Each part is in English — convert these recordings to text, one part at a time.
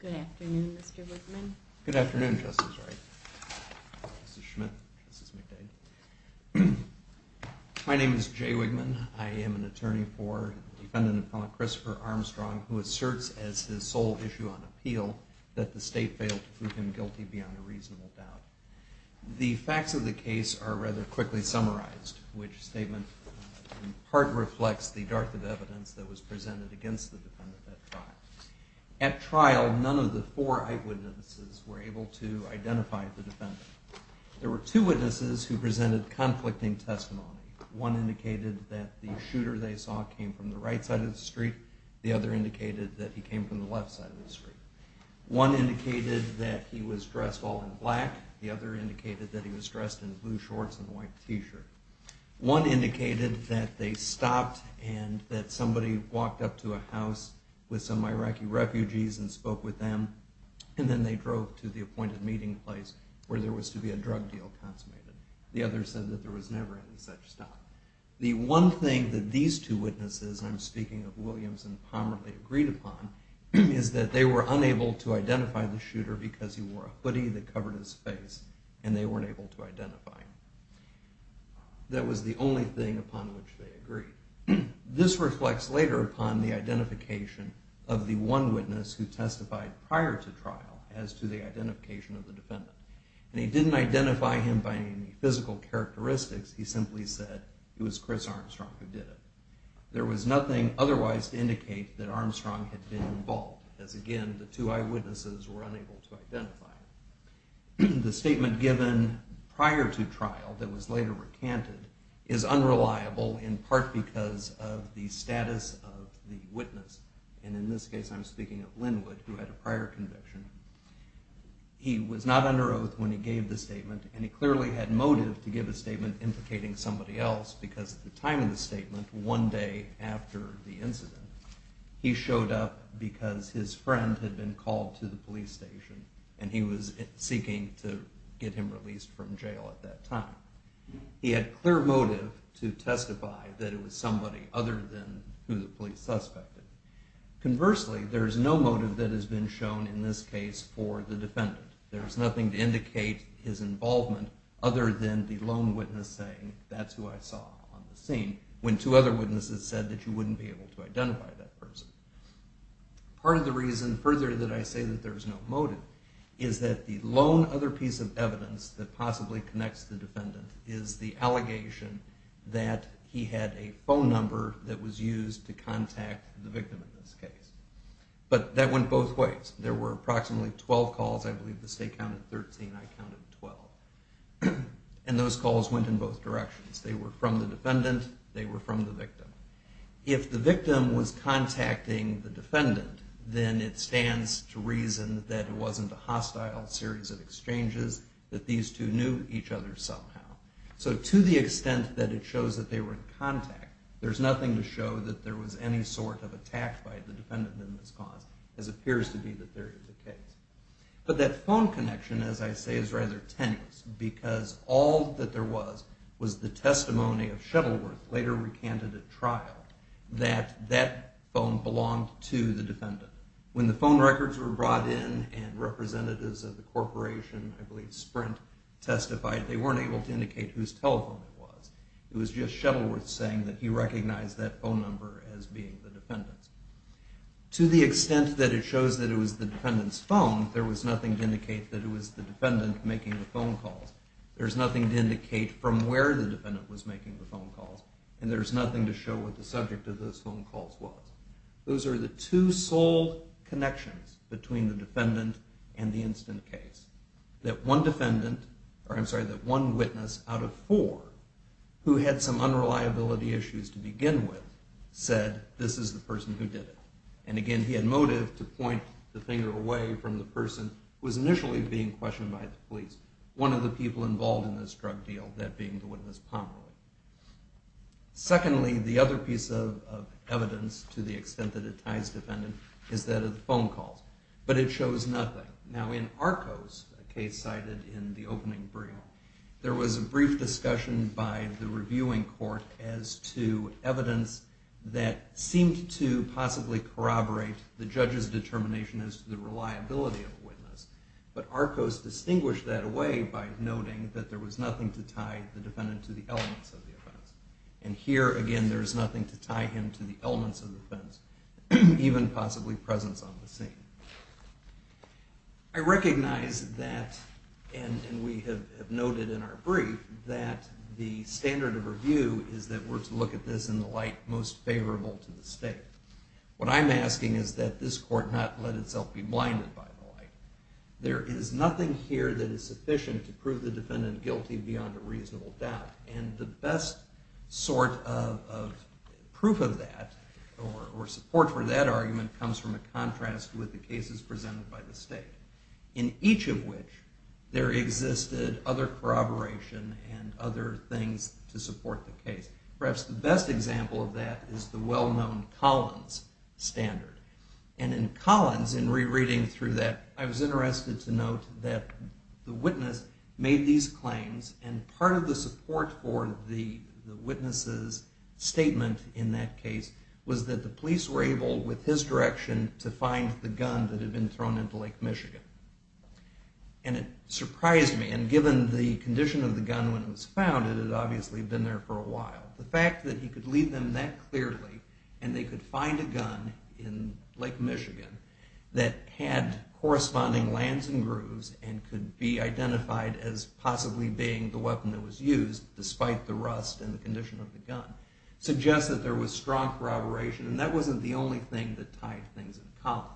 Good afternoon, Mr. Wigman. Good afternoon, Justice Wright. This is Schmidt. This is McDade. My name is Jay Wigman. I am an attorney for defendant and felon Christopher Armstrong who asserts as his sole issue on appeal that the state failed to prove him guilty beyond a reasonable doubt. The facts of the case are rather quickly summarized, which statement in part reflects the dearth of evidence that was presented against the defendant at trial. At trial, none of the four eyewitnesses were able to identify the defendant. There were two witnesses who presented conflicting testimony. One indicated that the shooter they saw came from the right side of the street. The other indicated that he came from the left side of the street. One indicated that he was dressed all in black. The other indicated that he was dressed in blue shorts and a white t-shirt. One indicated that they stopped and that somebody walked up to a house with some Iraqi refugees and spoke with them. And then they drove to the appointed meeting place where there was to be a drug deal consummated. The other said that there was never any such stop. The one thing that these two witnesses, and I'm speaking of Williams and Pomerley, agreed upon is that they were unable to identify the shooter because he wore a hoodie that covered his face and they weren't able to identify him. That was the only thing upon which they agreed. This reflects later upon the identification of the one witness who testified prior to trial as to the identification of the defendant. And he didn't identify him by any physical characteristics. He simply said it was Chris Armstrong who did it. There was nothing otherwise to indicate that Armstrong had been involved, as again, the two eyewitnesses were unable to identify him. The statement given prior to trial that was later recanted is unreliable in part because of the status of the witness. And in this case, I'm speaking of Linwood, who had a prior conviction. He was not under oath when he gave the statement, and he clearly had motive to give a statement implicating somebody else because at the time of the statement, one day after the incident, he showed up because his friend had been called to the police station and he was seeking to get him released from jail at that time. He had clear motive to testify that it was somebody other than who the police suspected. Conversely, there's no motive that has been shown in this case for the defendant. There's nothing to indicate his involvement other than the lone witness saying, that's who I saw on the scene, when two other witnesses said that you wouldn't be able to identify that person. Part of the reason further that I say that there's no motive is that the lone other piece of evidence that possibly connects the defendant is the contact of the victim in this case. But that went both ways. There were approximately 12 calls. I believe the state counted 13. I counted 12. And those calls went in both directions. They were from the defendant. They were from the victim. If the victim was contacting the defendant, then it stands to reason that it wasn't a hostile series of exchanges, that these two knew each other somehow. So to the extent that it shows that they were in contact, there's nothing to show that there was any sort of attack by the defendant in this cause, as appears to be the theory of the case. But that phone connection, as I say, is rather tenuous, because all that there was was the testimony of Shettleworth, later recanted at trial, that that phone belonged to the defendant. When the phone records were brought in and representatives of the corporation, I believe Sprint, testified, they weren't able to indicate whose telephone it was. It was just Shettleworth saying that he recognized that phone number as being the defendant's. To the extent that it shows that it was the defendant's phone, there was nothing to indicate that it was the defendant making the phone calls. There's nothing to indicate from where the defendant was making the phone calls. And there's nothing to show what the subject of those phone calls was. Those are the two sole connections between the defendant and the incident case. That one witness out of four who had some unreliability issues to begin with said, this is the person who did it. And again, he had motive to point the finger away from the person who was initially being questioned by the police, one of the people involved in this drug deal, that being the witness Pomeroy. Secondly, the other piece of evidence to the in Arcos, a case cited in the opening brief, there was a brief discussion by the reviewing court as to evidence that seemed to possibly corroborate the judge's determination as to the reliability of the witness. But Arcos distinguished that away by noting that there was nothing to tie the defendant to the elements of the offense. And here, again, there's nothing to tie him to the elements of the offense, even possibly presence on the scene. I recognize that, and we have noted in our brief, that the standard of review is that we're to look at this in the light most favorable to the state. What I'm asking is that this court not let itself be blinded by the light. There is nothing here that is sufficient to prove the defendant guilty beyond a reasonable doubt. And the best sort of proof of that, or support for that argument, comes from a contrast with the cases presented by the state, in each of which there existed other corroboration and other things to support the case. Perhaps the best example of that is the well-known Collins standard. And in Collins, in rereading through that, I was interested to note that the witness made these claims. And part of the support for the witness's statement in that case was that the police were able, with his direction, to find the gun that had been thrown into Lake Michigan. And it surprised me. And given the condition of the gun when it was found, it had obviously been there for a while. The fact that he could lead them that clearly, and they could find a gun in Lake Michigan that had corresponding lands and grooves and could be identified as possibly being the weapon that was used, despite the rust and the condition of the gun, suggests that there was strong corroboration. And that wasn't the only thing that tied things in Collins.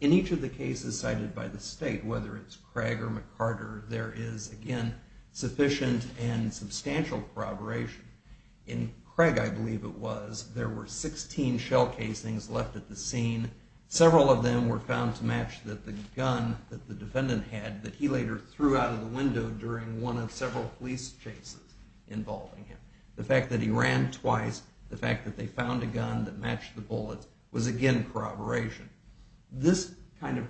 In each of the cases cited by the state, whether it's Craig or McCarter, there is, again, sufficient and substantial corroboration. In Craig, I believe it was, there were 16 shell casings left at the scene. Several of them were found to match that the gun that the defendant had that he later threw out of the window during one of several police chases involving him. The fact that he ran twice, the fact that they found a gun that matched the bullets was, again, corroboration. This kind of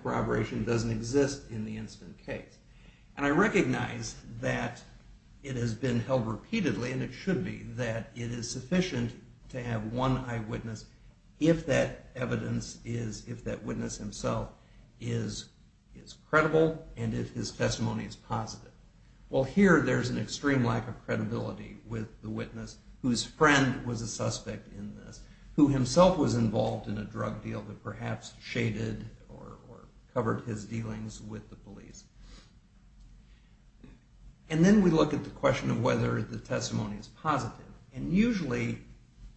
has been held repeatedly, and it should be, that it is sufficient to have one eyewitness if that evidence is, if that witness himself is credible and if his testimony is positive. Well, here there's an extreme lack of credibility with the witness whose friend was a suspect in this, who himself was involved in a drug deal that perhaps shaded or covered his dealings with the police. And then we look at the question of whether the testimony is positive. And usually,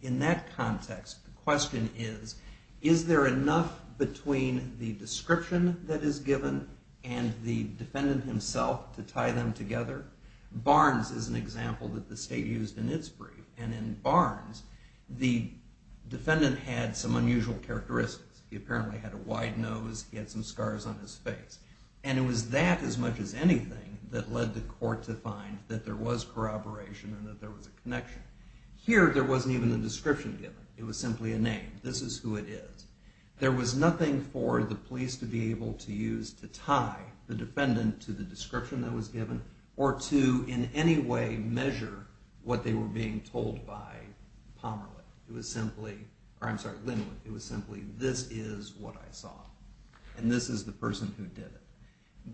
in that context, the question is, is there enough between the description that is given and the defendant himself to tie them together? Barnes is an example that the state used in its brief, and in Barnes, the defendant had some unusual characteristics. He apparently had a wide nose, he had some scars on his face. And it was that, as much as anything, that led the court to find that there was corroboration and that there was a connection. Here, there wasn't even a description given. It was simply a name. This is who it is. There was nothing for the police to be able to use to tie the defendant to the description that was given or to, in any way, measure what they were being by Pomeroy. It was simply, or I'm sorry, Linwood. It was simply, this is what I saw. And this is the person who did it.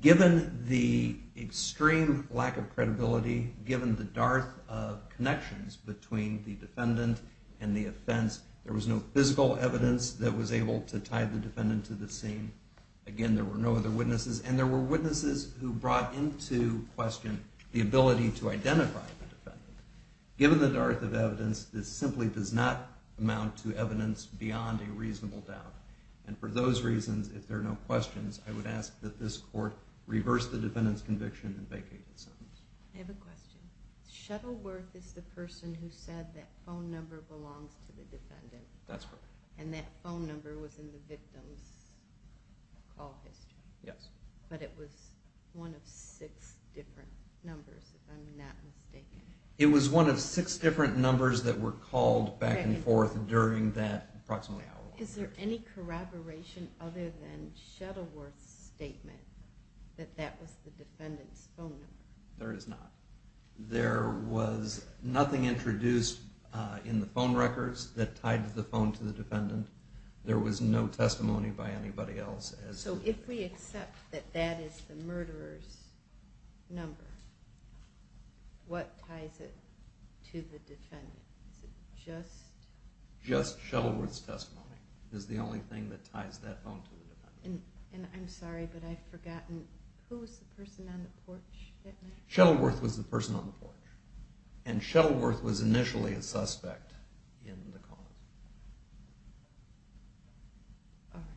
Given the extreme lack of credibility, given the dearth of connections between the defendant and the offense, there was no physical evidence that was able to tie the defendant to the scene. Again, there were no other witnesses. And there were witnesses who brought into question the ability to identify the defendant. Given the dearth of evidence, this simply does not amount to evidence beyond a reasonable doubt. And for those reasons, if there are no questions, I would ask that this court reverse the defendant's conviction and vacate the sentence. I have a question. Shuttleworth is the person who said that phone number belongs to the defendant. That's correct. And that phone number was in the victim's call history. Yes. But it was one of six different numbers, if I'm not mistaken. It was one of six different numbers that were called back and forth during that approximately hour. Is there any corroboration other than Shuttleworth's statement that that was the defendant's phone number? There is not. There was nothing introduced in the phone records that tied the phone to the defendant. There was no testimony by anybody else. So if we accept that that is the murderer's number, what ties it to the defendant? Just Shuttleworth's testimony is the only thing that ties that phone to the defendant. And I'm sorry, but I've forgotten, who was the person on the porch? Shuttleworth was the person on the porch. And Shuttleworth was initially a suspect in the call. All right.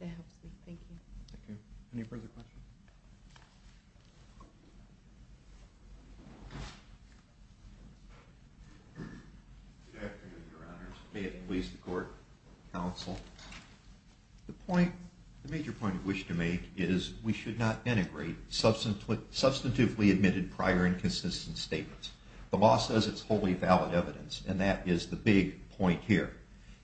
That helps me. Thank you. Thank you. Any further questions? Good afternoon, Your Honors. David Lease, the Court Counsel. The major point I wish to make is we should not integrate substantively admitted prior inconsistent statements. The law says it's wholly valid evidence, and that is the big point here.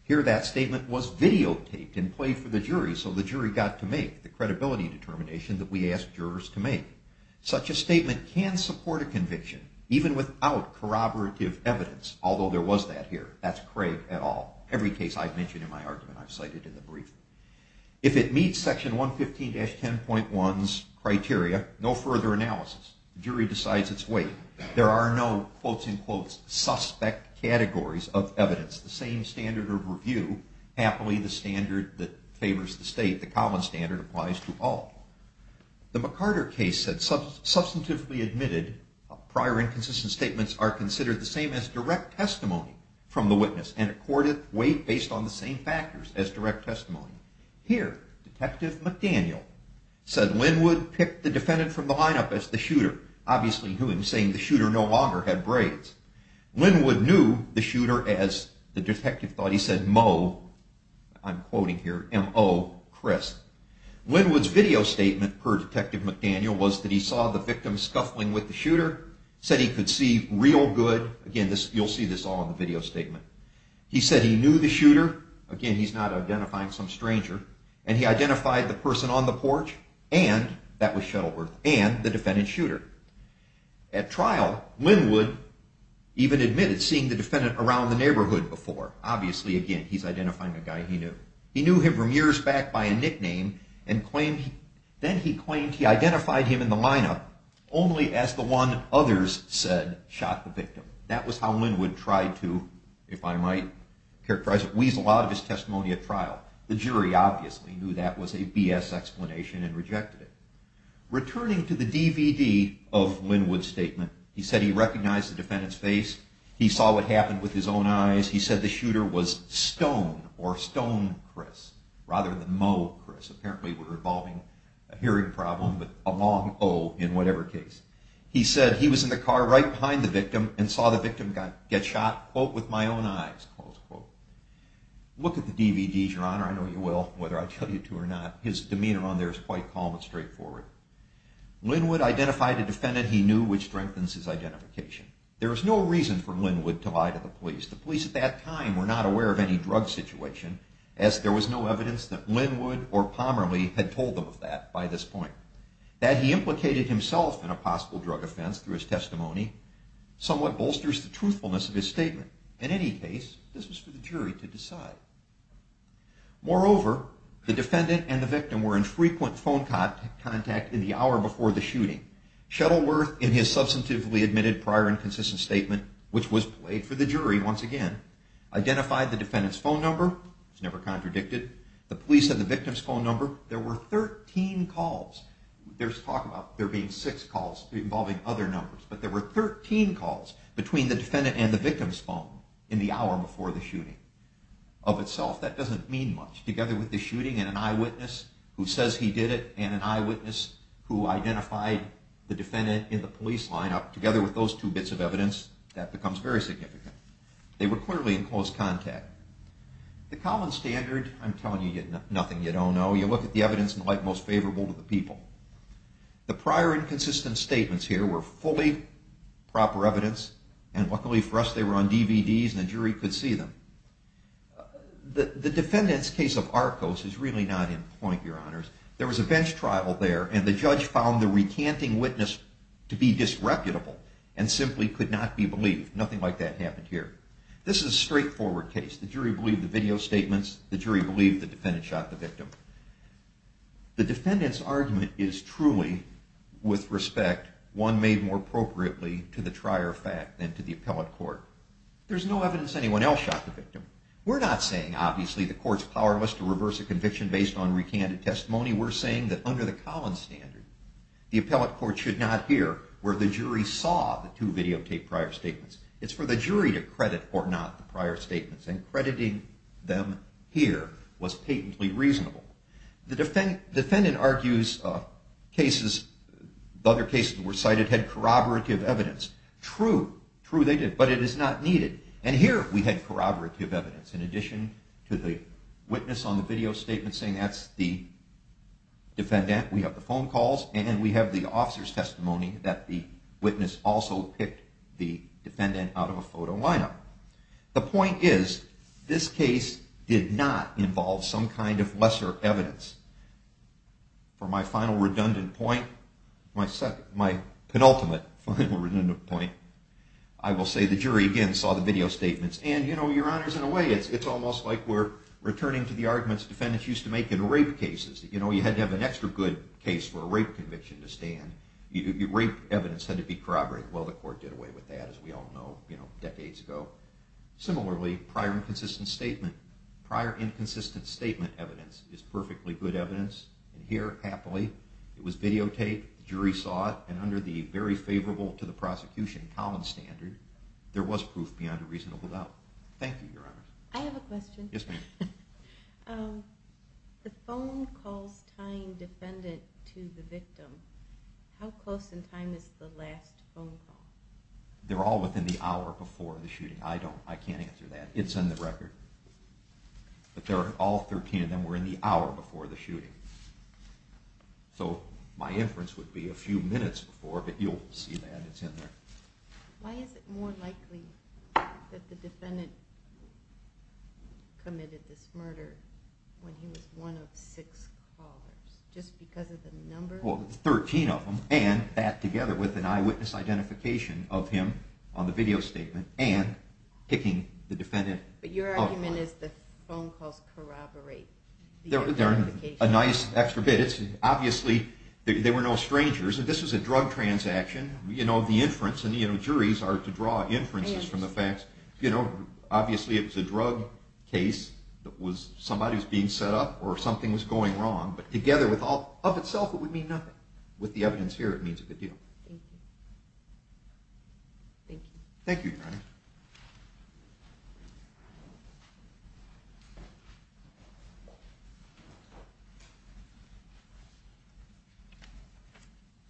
Here that statement was videotaped and played for the jury so the jury got to make the credibility determination that we asked jurors to make. Such a statement can support a conviction even without corroborative evidence, although there was that here. That's Craig et al. Every case I've mentioned in my argument I've cited in the brief. If it meets Section 115-10.1's criteria, no further analysis. The jury decides its weight. There are no, quote unquote, suspect categories of evidence. The same standard of review, happily the standard that favors the state, the common standard applies to all. The McCarter case said substantively admitted prior inconsistent statements are considered the same as direct testimony from the witness and accorded weight based on the same factors as direct testimony. Here, Detective McDaniel said Linwood picked the defendant from the lineup as the shooter, obviously him saying the shooter no longer had braids. Linwood knew the shooter as the detective thought he said, Mo, I'm quoting here, M-O, Chris. Linwood's video statement per Detective McDaniel was that he saw the victim scuffling with the shooter, said he could see real good, again you'll see this all in the video statement. He said he knew the shooter, again he's not identifying some stranger, and he identified the person on the porch and that was Shuttleworth and the defendant shooter. At trial, Linwood even admitted seeing the defendant around the neighborhood before, obviously again he's identifying a guy he knew. He knew him from years back by a nickname and claimed, then he claimed he identified him in the lineup only as the one others said shot the victim. That was how Linwood tried to, if I might characterize it, weasel out of his to the DVD of Linwood's statement. He said he recognized the defendant's face, he saw what happened with his own eyes, he said the shooter was Stone or Stone Chris, rather than Mo Chris, apparently were involving a hearing problem, but a long O in whatever case. He said he was in the car right behind the victim and saw the victim get shot, quote, with my own eyes, close quote. Look at the DVDs, your honor, I know you will, whether I tell you to or not, his demeanor on quite calm and straightforward. Linwood identified a defendant he knew, which strengthens his identification. There was no reason for Linwood to lie to the police. The police at that time were not aware of any drug situation, as there was no evidence that Linwood or Pomerley had told them of that by this point. That he implicated himself in a possible drug offense through his testimony somewhat bolsters the truthfulness of his statement. In any case, this was for the jury to decide. Moreover, the defendant and the victim were in frequent phone contact in the hour before the shooting. Shuttleworth, in his substantively admitted prior and consistent statement, which was played for the jury once again, identified the defendant's phone number, it was never contradicted, the police had the victim's phone number, there were 13 calls, there's talk about there being six calls involving other numbers, but there were 13 calls between the of itself. That doesn't mean much. Together with the shooting and an eyewitness who says he did it and an eyewitness who identified the defendant in the police lineup, together with those two bits of evidence, that becomes very significant. They were clearly in close contact. The common standard, I'm telling you nothing you don't know, you look at the evidence and like most favorable to the people. The prior and consistent statements here were fully proper evidence, and luckily for us they were on DVDs and the jury could see them. The defendant's case of Arcos is really not in point, your honors. There was a bench trial there and the judge found the recanting witness to be disreputable and simply could not be believed. Nothing like that happened here. This is a straightforward case. The jury believed the video statements, the jury believed the defendant shot the victim. The defendant's argument is truly, with respect, one made more appropriately to the trier fact than to the appellate court. There's no evidence anyone else shot the victim. We're not saying obviously the court's powerless to reverse a conviction based on recanted testimony. We're saying that under the Collins standard, the appellate court should not hear where the jury saw the two videotaped prior statements. It's for the jury to credit or not the prior statements, and crediting them here was patently reasonable. The defendant argues cases, other cases were cited had corroborative evidence. True, true they did, but it is not needed, and here we had corroborative evidence in addition to the witness on the video statement saying that's the defendant. We have the phone calls and we have the officer's testimony that the witness also picked the defendant out of a photo lineup. The point is this case did not involve some kind of lesser evidence. For my final redundant point, my penultimate final redundant point, I will say the jury again saw the video statements and, you know, your honors, in a way it's almost like we're returning to the arguments defendants used to make in rape cases. You know, you had to have an extra good case for a rape conviction to stand. Rape evidence had to be corroborated. Well, the court did away with that, as we all know, prior inconsistent statement evidence is perfectly good evidence, and here happily it was videotaped, the jury saw it, and under the very favorable to the prosecution common standard, there was proof beyond a reasonable doubt. Thank you, your honors. I have a question. Yes, ma'am. The phone calls tying defendant to the victim, how close in time is the last phone call? They're all within the but they're all 13 of them were in the hour before the shooting, so my inference would be a few minutes before, but you'll see that it's in there. Why is it more likely that the defendant committed this murder when he was one of six callers just because of the number? Well, 13 of them and that together with an eyewitness identification of him on the phone calls corroborate. They're a nice extra bit. It's obviously they were no strangers, and this was a drug transaction. You know, the inference and, you know, juries are to draw inferences from the facts. You know, obviously it was a drug case that was somebody who's being set up or something was going wrong, but together with all of itself, it would mean nothing. With evidence here, it means a good deal. Thank you.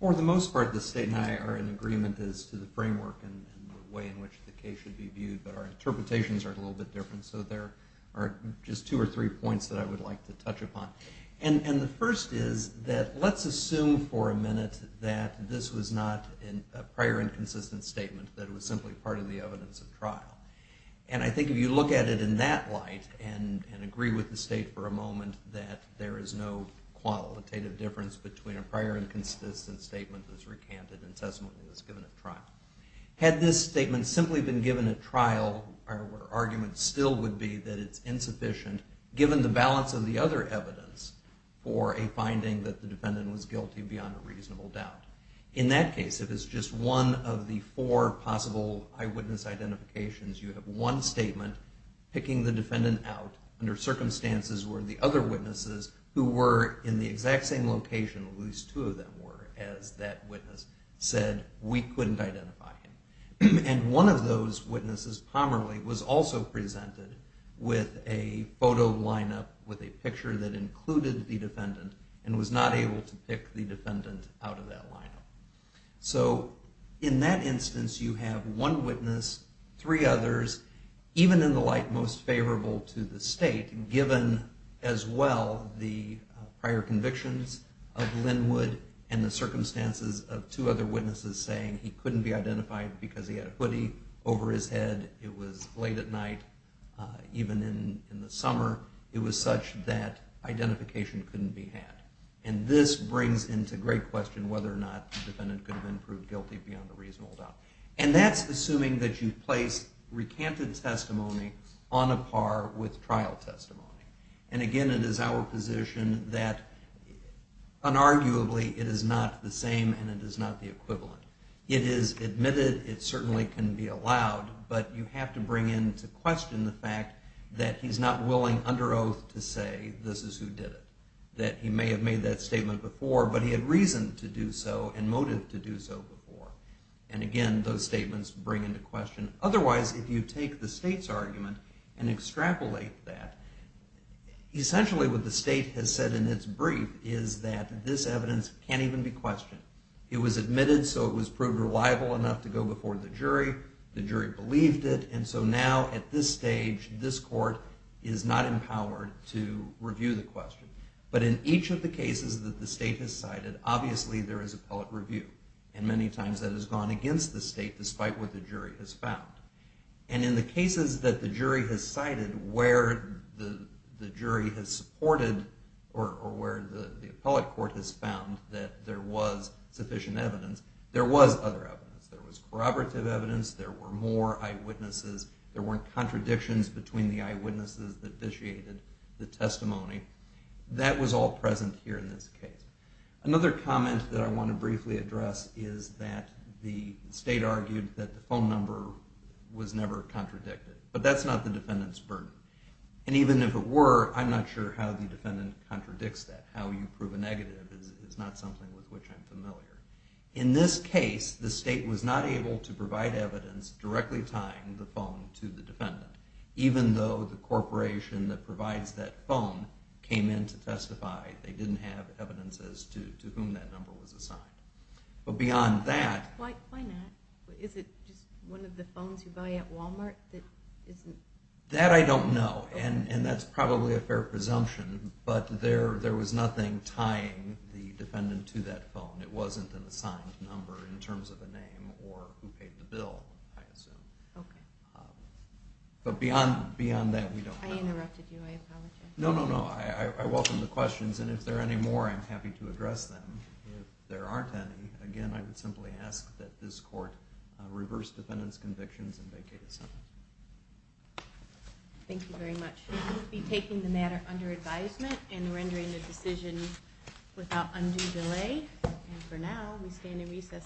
For the most part, the state and I are in agreement as to the framework and the way in which the case should be viewed, but our interpretations are a little bit different, so there are just two or three points that I would like to touch upon. And the first is that let's assume for a minute that this was not a prior and consistent statement, that it was simply part of the evidence of trial. And I think if you look at it in that light and agree with the state for a moment that there is no qualitative difference between a prior and consistent statement that's recanted and testament that it was given at trial. Had this statement simply been given at trial, our argument still would be that it's insufficient given the balance of the other evidence for a finding that the defendant was guilty beyond a reasonable doubt. In that case, if it's just one of the four possible eyewitness identifications, you have one statement picking the defendant out under circumstances where the other witnesses who were in the exact same location, at least two of them were, as that witness said we couldn't identify him. And one of those witnesses, Pomerley, was also presented with a photo lineup with a picture that included the defendant and was not able to pick the defendant out of that lineup. So in that instance, you have one witness, three others, even in the light most favorable to the state, given as well the prior convictions of Linwood and the circumstances of two other witnesses. And that's assuming that you place recanted testimony on a par with trial testimony. And again, it is our position that, unarguably, it is not the same and it is not the equivalent. It is admitted, it certainly can be allowed, but you have to bring into question the fact that he's not willing under oath to say this is who did it. That he may have made that statement before, but he had reason to do so and motive to do so before. And again, those statements bring into question. Otherwise, if you take the state's argument and extrapolate that, essentially what the state has in its brief is that this evidence can't even be questioned. It was admitted, so it was proved reliable enough to go before the jury. The jury believed it. And so now at this stage, this court is not empowered to review the question. But in each of the cases that the state has cited, obviously there is appellate review. And many times that has gone against the state, despite what the jury has found. And in the cases that the jury has cited where the jury has supported or where the appellate court has found that there was sufficient evidence, there was other evidence. There was corroborative evidence. There were more eyewitnesses. There weren't contradictions between the eyewitnesses that vitiated the testimony. That was all present here in this case. Another comment that I want to briefly address is that the state argued that the phone number was never contradicted. But that's not the defendant's burden. And even if it were, I'm not sure how the defendant contradicts that. How you prove a negative is not something with which I'm familiar. In this case, the state was not able to provide evidence directly tying the phone to the defendant. Even though the corporation that provides that phone came in to testify, they didn't have evidence as to whom that number was assigned. But beyond that- Why not? Is it just one of the phones you buy at Walmart that isn't- That I don't know. And that's probably a fair presumption. But there was nothing tying the defendant to that phone. It wasn't an assigned number in terms of a name or who paid the bill, I assume. But beyond that, we don't know. I interrupted you. I apologize. No, no, no. I welcome the questions. And if there are any more, I'm happy to address them. If there aren't any, again, I would simply ask that this court reverse defendant's convictions and vacate itself. Thank you very much. We will be taking the matter under advisement and rendering the decision without undue delay. And for now, we stand in recess.